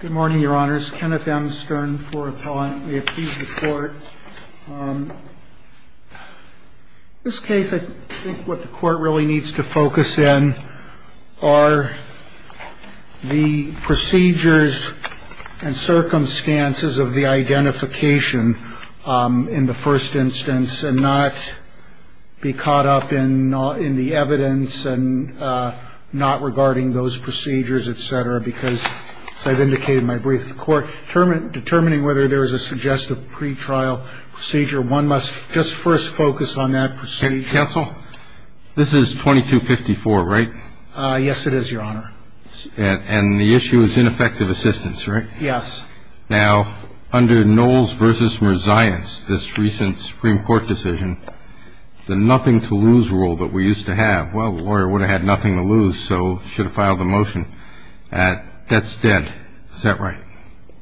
Good morning, Your Honors. Kenneth M. Stern, IV Appellant. We appease the Court. This case, I think what the Court really needs to focus in are the procedures and circumstances of the identification in the first instance and not be caught up in the evidence and not regarding those procedures, etc. Because as I've indicated in my brief to the Court, determining whether there is a suggestive pretrial procedure, one must just first focus on that procedure. Counsel, this is 2254, right? Yes, it is, Your Honor. And the issue is ineffective assistance, right? Yes. Now, under Knowles v. Merzias, this recent Supreme Court decision, the nothing-to-lose rule that we used to have, well, the lawyer would have had nothing to lose, so should have filed the motion. That's dead. Is that right?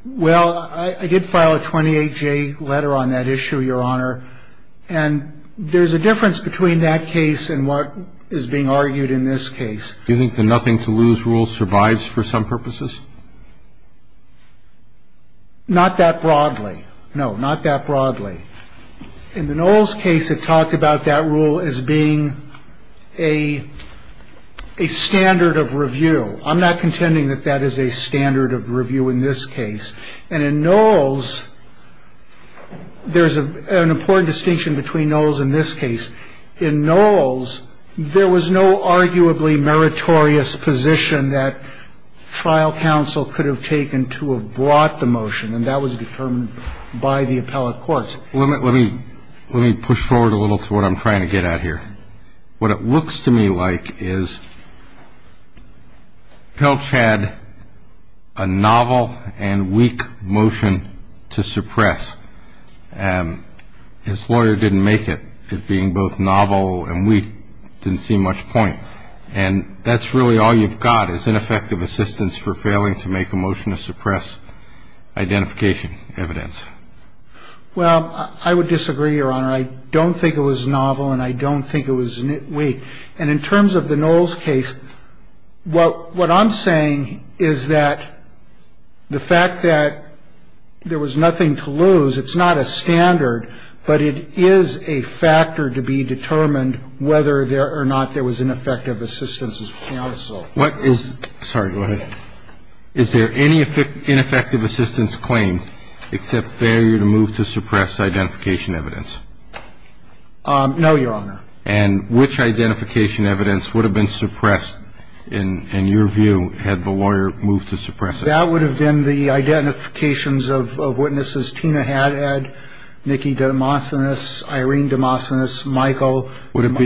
Well, I did file a 28-J letter on that issue, Your Honor. And there's a difference between that case and what is being argued in this case. Do you think the nothing-to-lose rule survives for some purposes? Not that broadly. No, not that broadly. In the Knowles case, it talked about that rule as being a standard of review. I'm not contending that that is a standard of review in this case. And in Knowles, there's an important distinction between Knowles and this case. In Knowles, there was no arguably meritorious position that trial counsel could have taken to have brought the motion, and that was determined by the appellate courts. Let me push forward a little to what I'm trying to get at here. What it looks to me like is Pelch had a novel and weak motion to suppress. His lawyer didn't make it, it being both novel and weak, didn't see much point. And that's really all you've got is ineffective assistance for failing to make a motion to suppress identification evidence. Well, I would disagree, Your Honor. I don't think it was novel and I don't think it was weak. And in terms of the Knowles case, what I'm saying is that the fact that there was nothing to lose, it's not a standard, but it is a factor to be determined whether or not there was ineffective assistance as counsel. What is – sorry, go ahead. Is there any ineffective assistance claim except failure to move to suppress identification evidence? No, Your Honor. And which identification evidence would have been suppressed, in your view, had the lawyer moved to suppress it? That would have been the identifications of witnesses Tina Haddad, Nikki DeMossonis, Irene DeMossonis, Michael. Would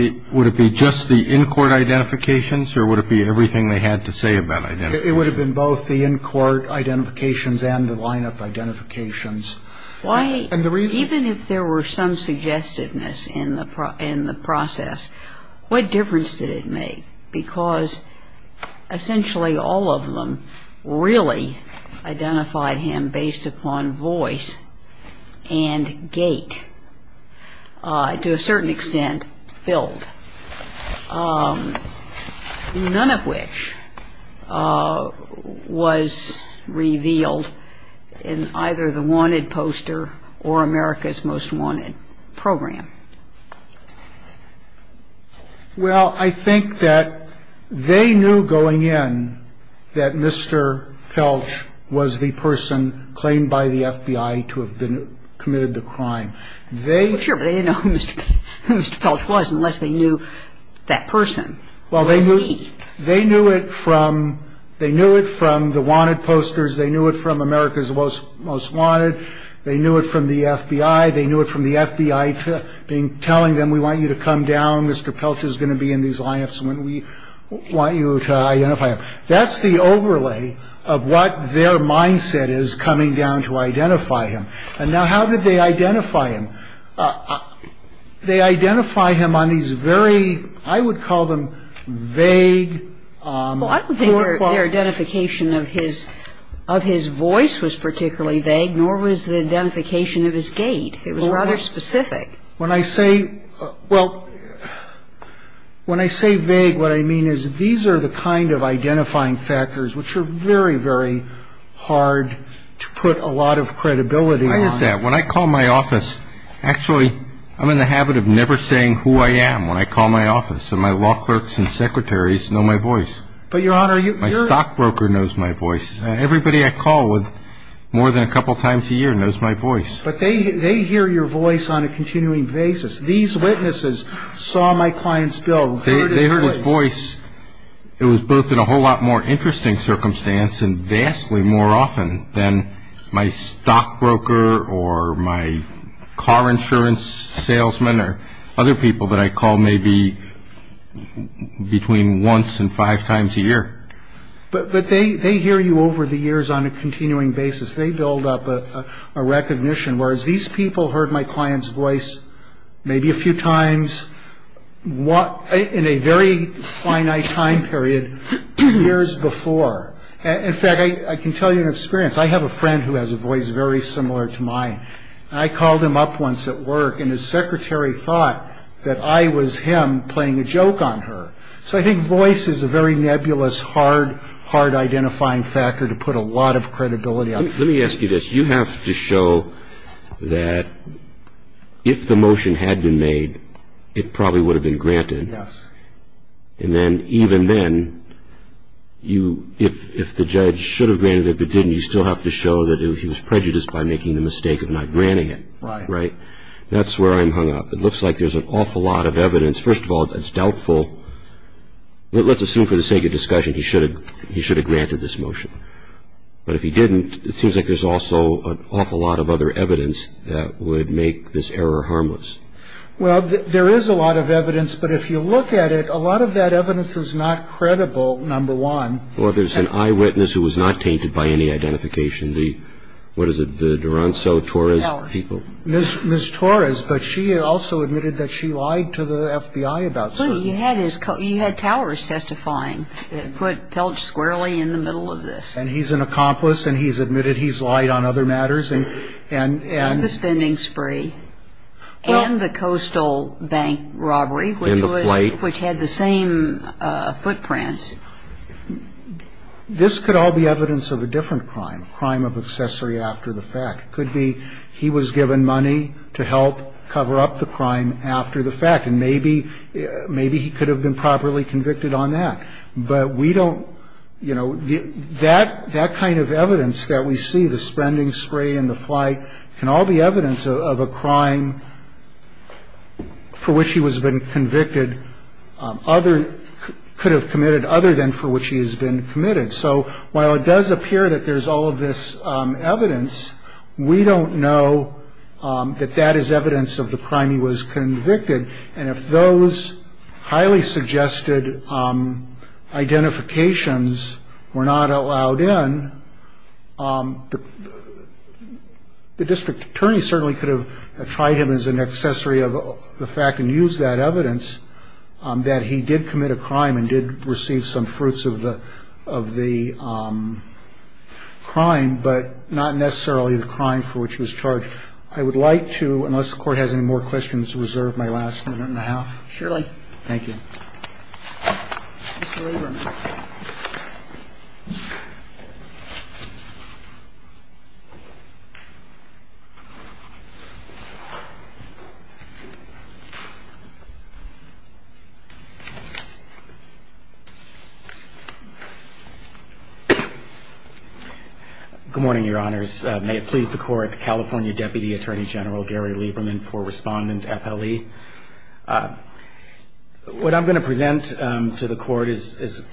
it be just the in-court identifications or would it be everything they had to say about identification? It would have been both the in-court identifications and the line-up identifications. Even if there were some suggestiveness in the process, what difference did it make? Because essentially all of them really identified him based upon voice and gait, to a certain extent, filled, none of which was revealed in either the Wanted poster or America's Most Wanted program. Well, I think that they knew going in that Mr. Pelch was the person claimed by the FBI to have been – committed the crime. They – Well, sure, but they didn't know who Mr. Pelch was unless they knew that person was he. Well, they knew it from – they knew it from the Wanted posters. They knew it from America's Most Wanted. They knew it from the FBI. They knew it from the FBI being – telling them, we want you to come down. Mr. Pelch is going to be in these line-ups and we want you to identify him. That's the overlay of what their mindset is coming down to identify him. And now, how did they identify him? They identify him on these very – I would call them vague, forethought – Well, when I say – well, when I say vague, what I mean is these are the kind of identifying factors which are very, very hard to put a lot of credibility on. I understand. When I call my office – actually, I'm in the habit of never saying who I am when I call my office. And my law clerks and secretaries know my voice. But, Your Honor, you're – My stockbroker knows my voice. Everybody I call with more than a couple times a year knows my voice. But they hear your voice on a continuing basis. These witnesses saw my client's bill, heard his voice. They heard his voice. It was both in a whole lot more interesting circumstance and vastly more often than my stockbroker or my car insurance salesman or other people that I call maybe between once and five times a year. But they hear you over the years on a continuing basis. They build up a recognition. Whereas these people heard my client's voice maybe a few times in a very finite time period years before. In fact, I can tell you an experience. I have a friend who has a voice very similar to mine. And I called him up once at work, and his secretary thought that I was him playing a joke on her. So I think voice is a very nebulous, hard, hard identifying factor to put a lot of credibility on. Let me ask you this. You have to show that if the motion had been made, it probably would have been granted. Yes. And then even then, if the judge should have granted it but didn't, you still have to show that he was prejudiced by making the mistake of not granting it. Right. That's where I'm hung up. It looks like there's an awful lot of evidence. First of all, it's doubtful. Let's assume for the sake of discussion he should have granted this motion. But if he didn't, it seems like there's also an awful lot of other evidence that would make this error harmless. Well, there is a lot of evidence. But if you look at it, a lot of that evidence is not credible, number one. Or there's an eyewitness who was not tainted by any identification. What is it, the Duranzo-Torres people? Miss Torres. But she also admitted that she lied to the FBI about something. Well, you had Towers testifying that put Pelch squarely in the middle of this. And he's an accomplice, and he's admitted he's lied on other matters. And the spending spree. And the Coastal Bank robbery. In the fleet. Which had the same footprints. This could all be evidence of a different crime, a crime of accessory after the fact. It could be he was given money to help cover up the crime after the fact. And maybe he could have been properly convicted on that. But we don't, you know, that kind of evidence that we see, the spending spree and the flight, can all be evidence of a crime for which he was convicted, could have committed other than for which he has been committed. So while it does appear that there's all of this evidence, we don't know that that is evidence of the crime he was convicted. And if those highly suggested identifications were not allowed in, the district attorney certainly could have tried him as an accessory of the fact and used that evidence that he did commit a crime and did receive some fruits of the crime, but not necessarily the crime for which he was charged. I would like to, unless the Court has any more questions, reserve my last minute and a half. Surely. Thank you. Good morning, Your Honors. May it please the Court, California Deputy Attorney General Gary Lieberman for Respondent, FLE. What I'm going to present to the Court is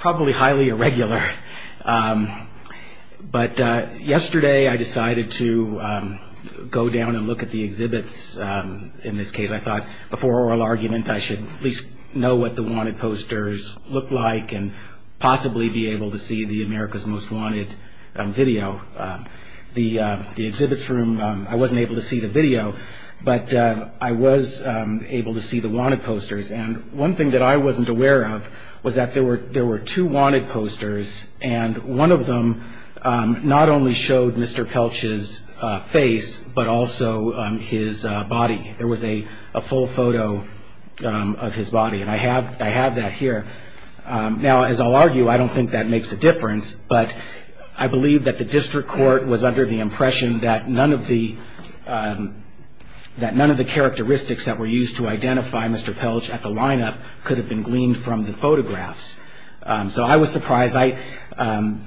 probably highly irregular. But yesterday I decided to go down and look at the exhibits in this case. I thought before oral argument I should at least know what the wanted posters look like and possibly be able to see the America's Most Wanted video. The exhibits room, I wasn't able to see the video, but I was able to see the wanted posters. And one thing that I wasn't aware of was that there were two wanted posters, and one of them not only showed Mr. Pelch's face, but also his body. There was a full photo of his body, and I have that here. Now, as I'll argue, I don't think that makes a difference, but I believe that the district court was under the impression that none of the characteristics that were used to identify Mr. Pelch at the lineup could have been gleaned from the photographs. So I was surprised, and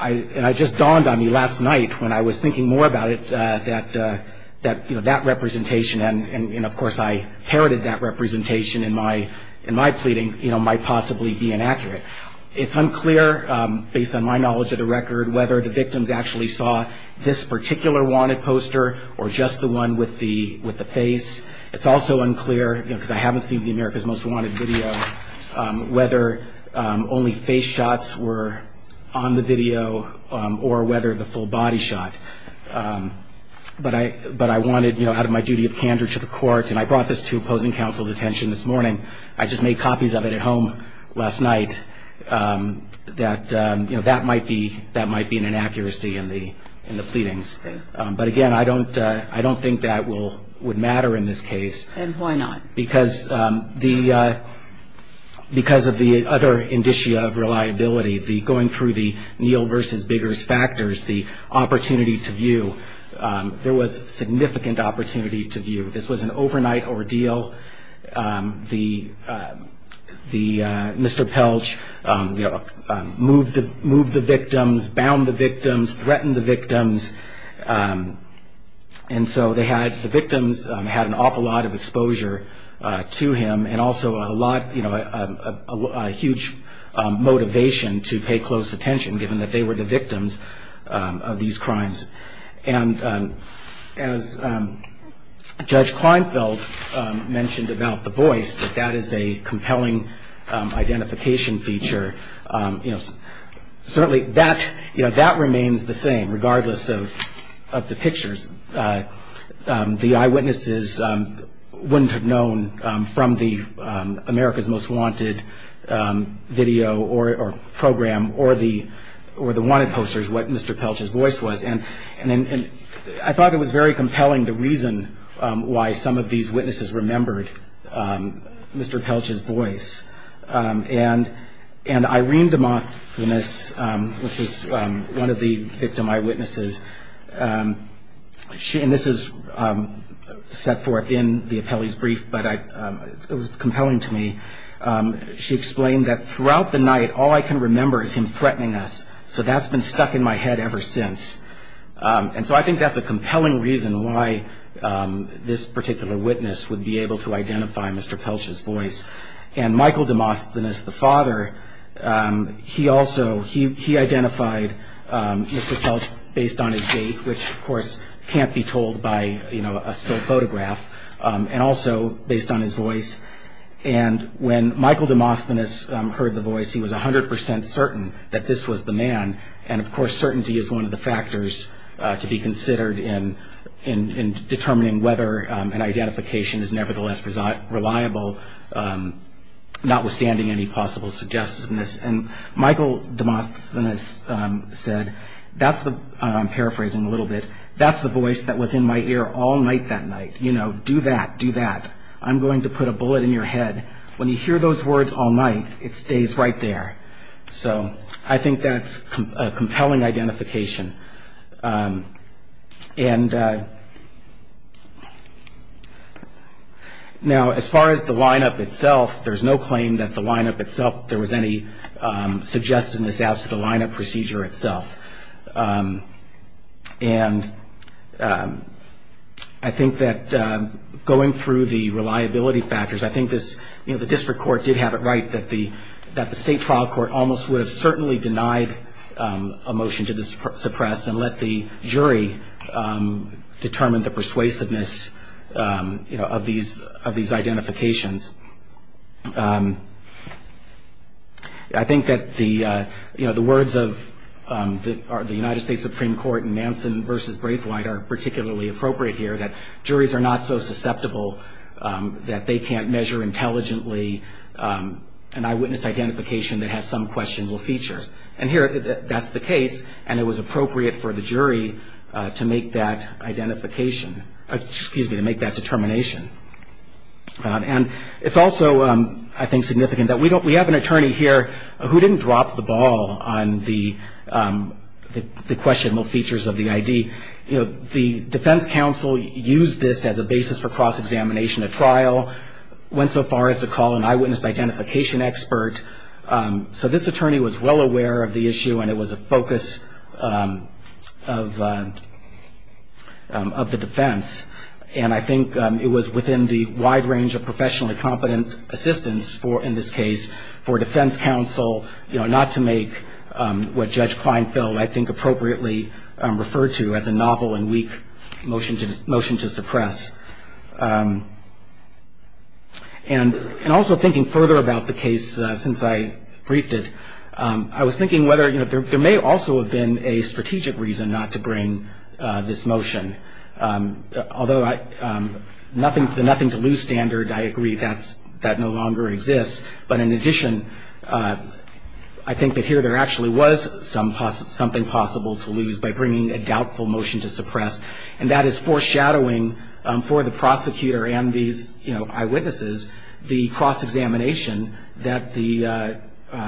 it just dawned on me last night when I was thinking more about it, that that representation, and of course I heralded that representation in my pleading, might possibly be inaccurate. It's unclear, based on my knowledge of the record, whether the victims actually saw this particular wanted poster or just the one with the face. It's also unclear, because I haven't seen the America's Most Wanted video, whether only face shots were on the video or whether the full body shot. But I wanted, out of my duty of candor to the court, and I brought this to opposing counsel's attention this morning, I just made copies of it at home last night, that that might be an inaccuracy in the pleadings. But again, I don't think that would matter in this case. And why not? Because of the other indicia of reliability, going through the Neal versus Biggers factors, the opportunity to view, there was significant opportunity to view. This was an overnight ordeal. Mr. Pelch moved the victims, bound the victims, threatened the victims. And so the victims had an awful lot of exposure to him and also a huge motivation to pay close attention, given that they were the victims of these crimes. And as Judge Kleinfeld mentioned about the voice, that that is a compelling identification feature. Certainly that remains the same, regardless of the pictures. The eyewitnesses wouldn't have known from the America's Most Wanted video or program or the Wanted posters what Mr. Pelch's voice was. And I thought it was very compelling, the reason why some of these witnesses remembered Mr. Pelch's voice. And Irene DeMoclinis, which is one of the victim eyewitnesses, and this is set forth in the appellee's brief, but it was compelling to me. She explained that throughout the night, all I can remember is him threatening us, so that's been stuck in my head ever since. And so I think that's a compelling reason why this particular witness would be able to identify Mr. Pelch's voice. And Michael DeMoclinis, the father, he also, he identified Mr. Pelch based on his date, which, of course, can't be told by, you know, a still photograph, and also based on his voice. And when Michael DeMoclinis heard the voice, he was 100 percent certain that this was the man. And, of course, certainty is one of the factors to be considered in determining whether an identification is nevertheless reliable, notwithstanding any possible suggestiveness. And Michael DeMoclinis said, I'm paraphrasing a little bit, that's the voice that was in my ear all night that night, you know, do that, do that. I'm going to put a bullet in your head. When you hear those words all night, it stays right there. So I think that's a compelling identification. And now, as far as the line-up itself, there's no claim that the line-up itself, there was any suggestiveness as to the line-up procedure itself. And I think that going through the reliability factors, I think this, you know, the district court did have it right that the state trial court almost would have certainly denied a motion to suppress and let the jury determine the persuasiveness, you know, of these identifications. I think that the, you know, the words of the United States Supreme Court in Nansen v. Braithwaite are particularly appropriate here, that juries are not so susceptible that they can't measure intelligently an eyewitness identification that has some questionable features. And here, that's the case, and it was appropriate for the jury to make that identification, excuse me, to make that determination. And it's also, I think, significant that we have an attorney here who didn't drop the ball on the questionable features of the ID. You know, the defense counsel used this as a basis for cross-examination at trial, went so far as to call an eyewitness identification expert. So this attorney was well aware of the issue, and it was a focus of the defense. And I think it was within the wide range of professionally competent assistance for, in this case, for defense counsel, you know, not to make what Judge Kleinfeld, I think, appropriately referred to as a novel and weak motion to suppress. And also thinking further about the case since I briefed it, I was thinking whether, you know, there may also have been a strategic reason not to bring this motion. Although the nothing-to-lose standard, I agree, that no longer exists. But in addition, I think that here there actually was something possible to lose by bringing a doubtful motion to suppress, and that is foreshadowing for the prosecutor and these, you know, eyewitnesses, the cross-examination that the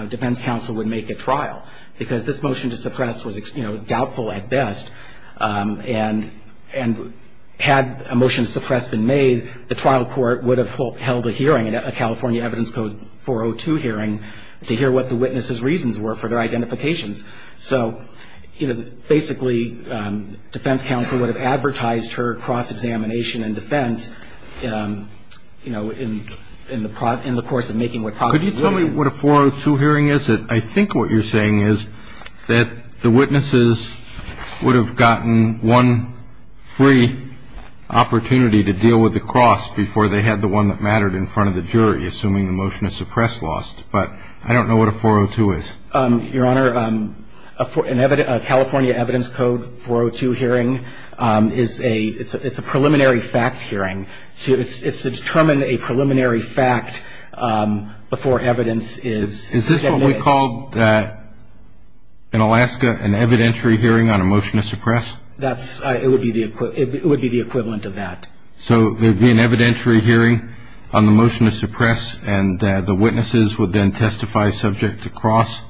defense counsel would make at trial. Because this motion to suppress was, you know, doubtful at best, and had a motion to suppress been made, the trial court would have held a hearing, a California Evidence Code 402 hearing, to hear what the witnesses' reasons were for their identifications. So, you know, basically, defense counsel would have advertised her cross-examination and defense, you know, in the course of making what probably would have been. Could you tell me what a 402 hearing is? I think what you're saying is that the witnesses would have gotten one free opportunity to deal with the cross before they had the one that mattered in front of the jury, assuming the motion to suppress lost. But I don't know what a 402 is. Your Honor, a California Evidence Code 402 hearing is a preliminary fact hearing. It's to determine a preliminary fact before evidence is submitted. Is this what we called in Alaska an evidentiary hearing on a motion to suppress? It would be the equivalent of that. So there would be an evidentiary hearing on the motion to suppress, and the witnesses would then testify subject to cross?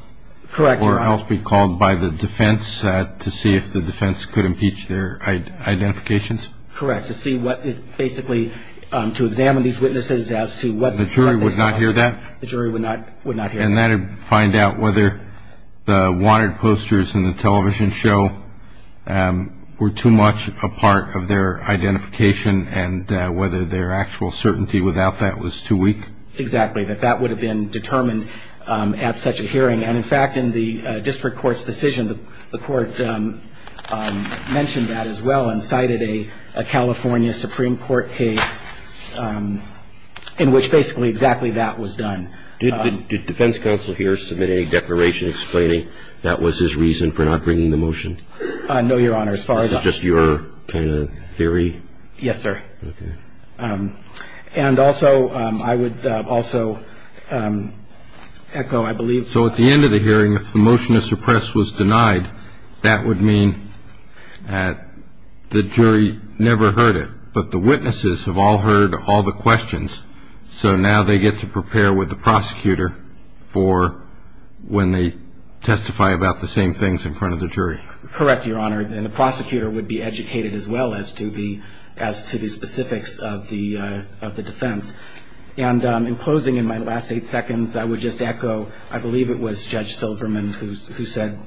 Correct, Your Honor. Or else be called by the defense to see if the defense could impeach their identifications? Correct, to see what it basically to examine these witnesses as to what they saw. The jury would not hear that? The jury would not hear that. And that would find out whether the wanted posters in the television show were too much a part of their identification and whether their actual certainty without that was too weak? Exactly. That that would have been determined at such a hearing. And, in fact, in the district court's decision, the court mentioned that as well and cited a California Supreme Court case in which basically exactly that was done. Did defense counsel here submit a declaration explaining that was his reason for not bringing the motion? No, Your Honor. As far as I'm concerned. This is just your kind of theory? Yes, sir. Okay. And also I would also echo, I believe. So at the end of the hearing, if the motion to suppress was denied, that would mean that the jury never heard it, but the witnesses have all heard all the questions, so now they get to prepare with the prosecutor for when they testify about the same things in front of the jury? Correct, Your Honor. And the prosecutor would be educated as well as to the specifics of the defense. And in closing, in my last eight seconds, I would just echo, I believe it was Judge Silverman who said,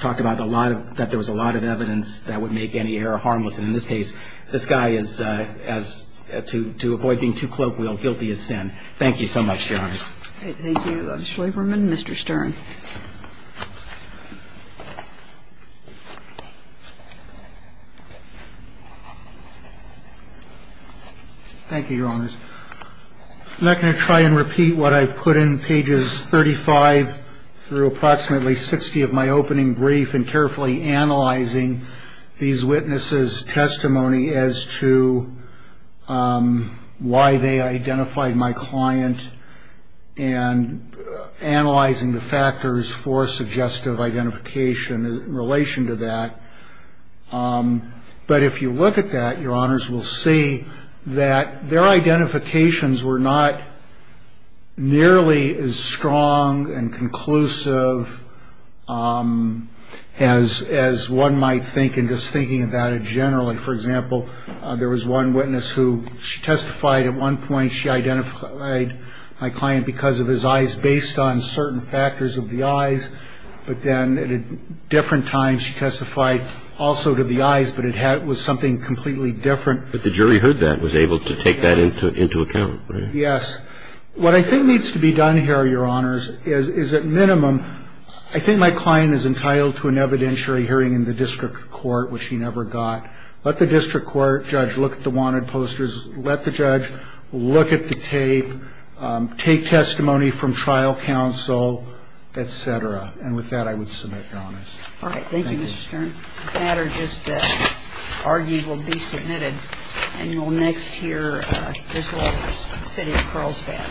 talked about a lot of, that there was a lot of evidence that would make any error harmless. And in this case, this guy is, to avoid being too cloak wheel, guilty as sin. Thank you so much, Your Honors. Thank you, Judge Silverman. Mr. Stern. Thank you, Your Honors. I'm not going to try and repeat what I've put in pages 35 through approximately 60 of my opening brief and carefully analyzing these witnesses' testimony as to why they identified my client and analyzing the factors for suggestive identification in relation to that. But if you look at that, Your Honors, we'll see that their identifications were not nearly as strong and conclusive as one might think in just thinking about it generally. For example, there was one witness who, she testified at one point, she identified my client because of his eyes based on certain factors of the eyes. But then at a different time, she testified also to the eyes, but it was something completely different. But the jury heard that and was able to take that into account, right? Yes. What I think needs to be done here, Your Honors, is at minimum, I think my client is entitled to an evidentiary hearing in the district court, which she never got, let the district court judge look at the wanted posters, let the judge look at the tape, take testimony from trial counsel, et cetera. And with that, I would submit, Your Honors. All right. Thank you, Mr. Stern. The matter just argued will be submitted. And you'll next hear Ms. Waters, City of Carlsbad.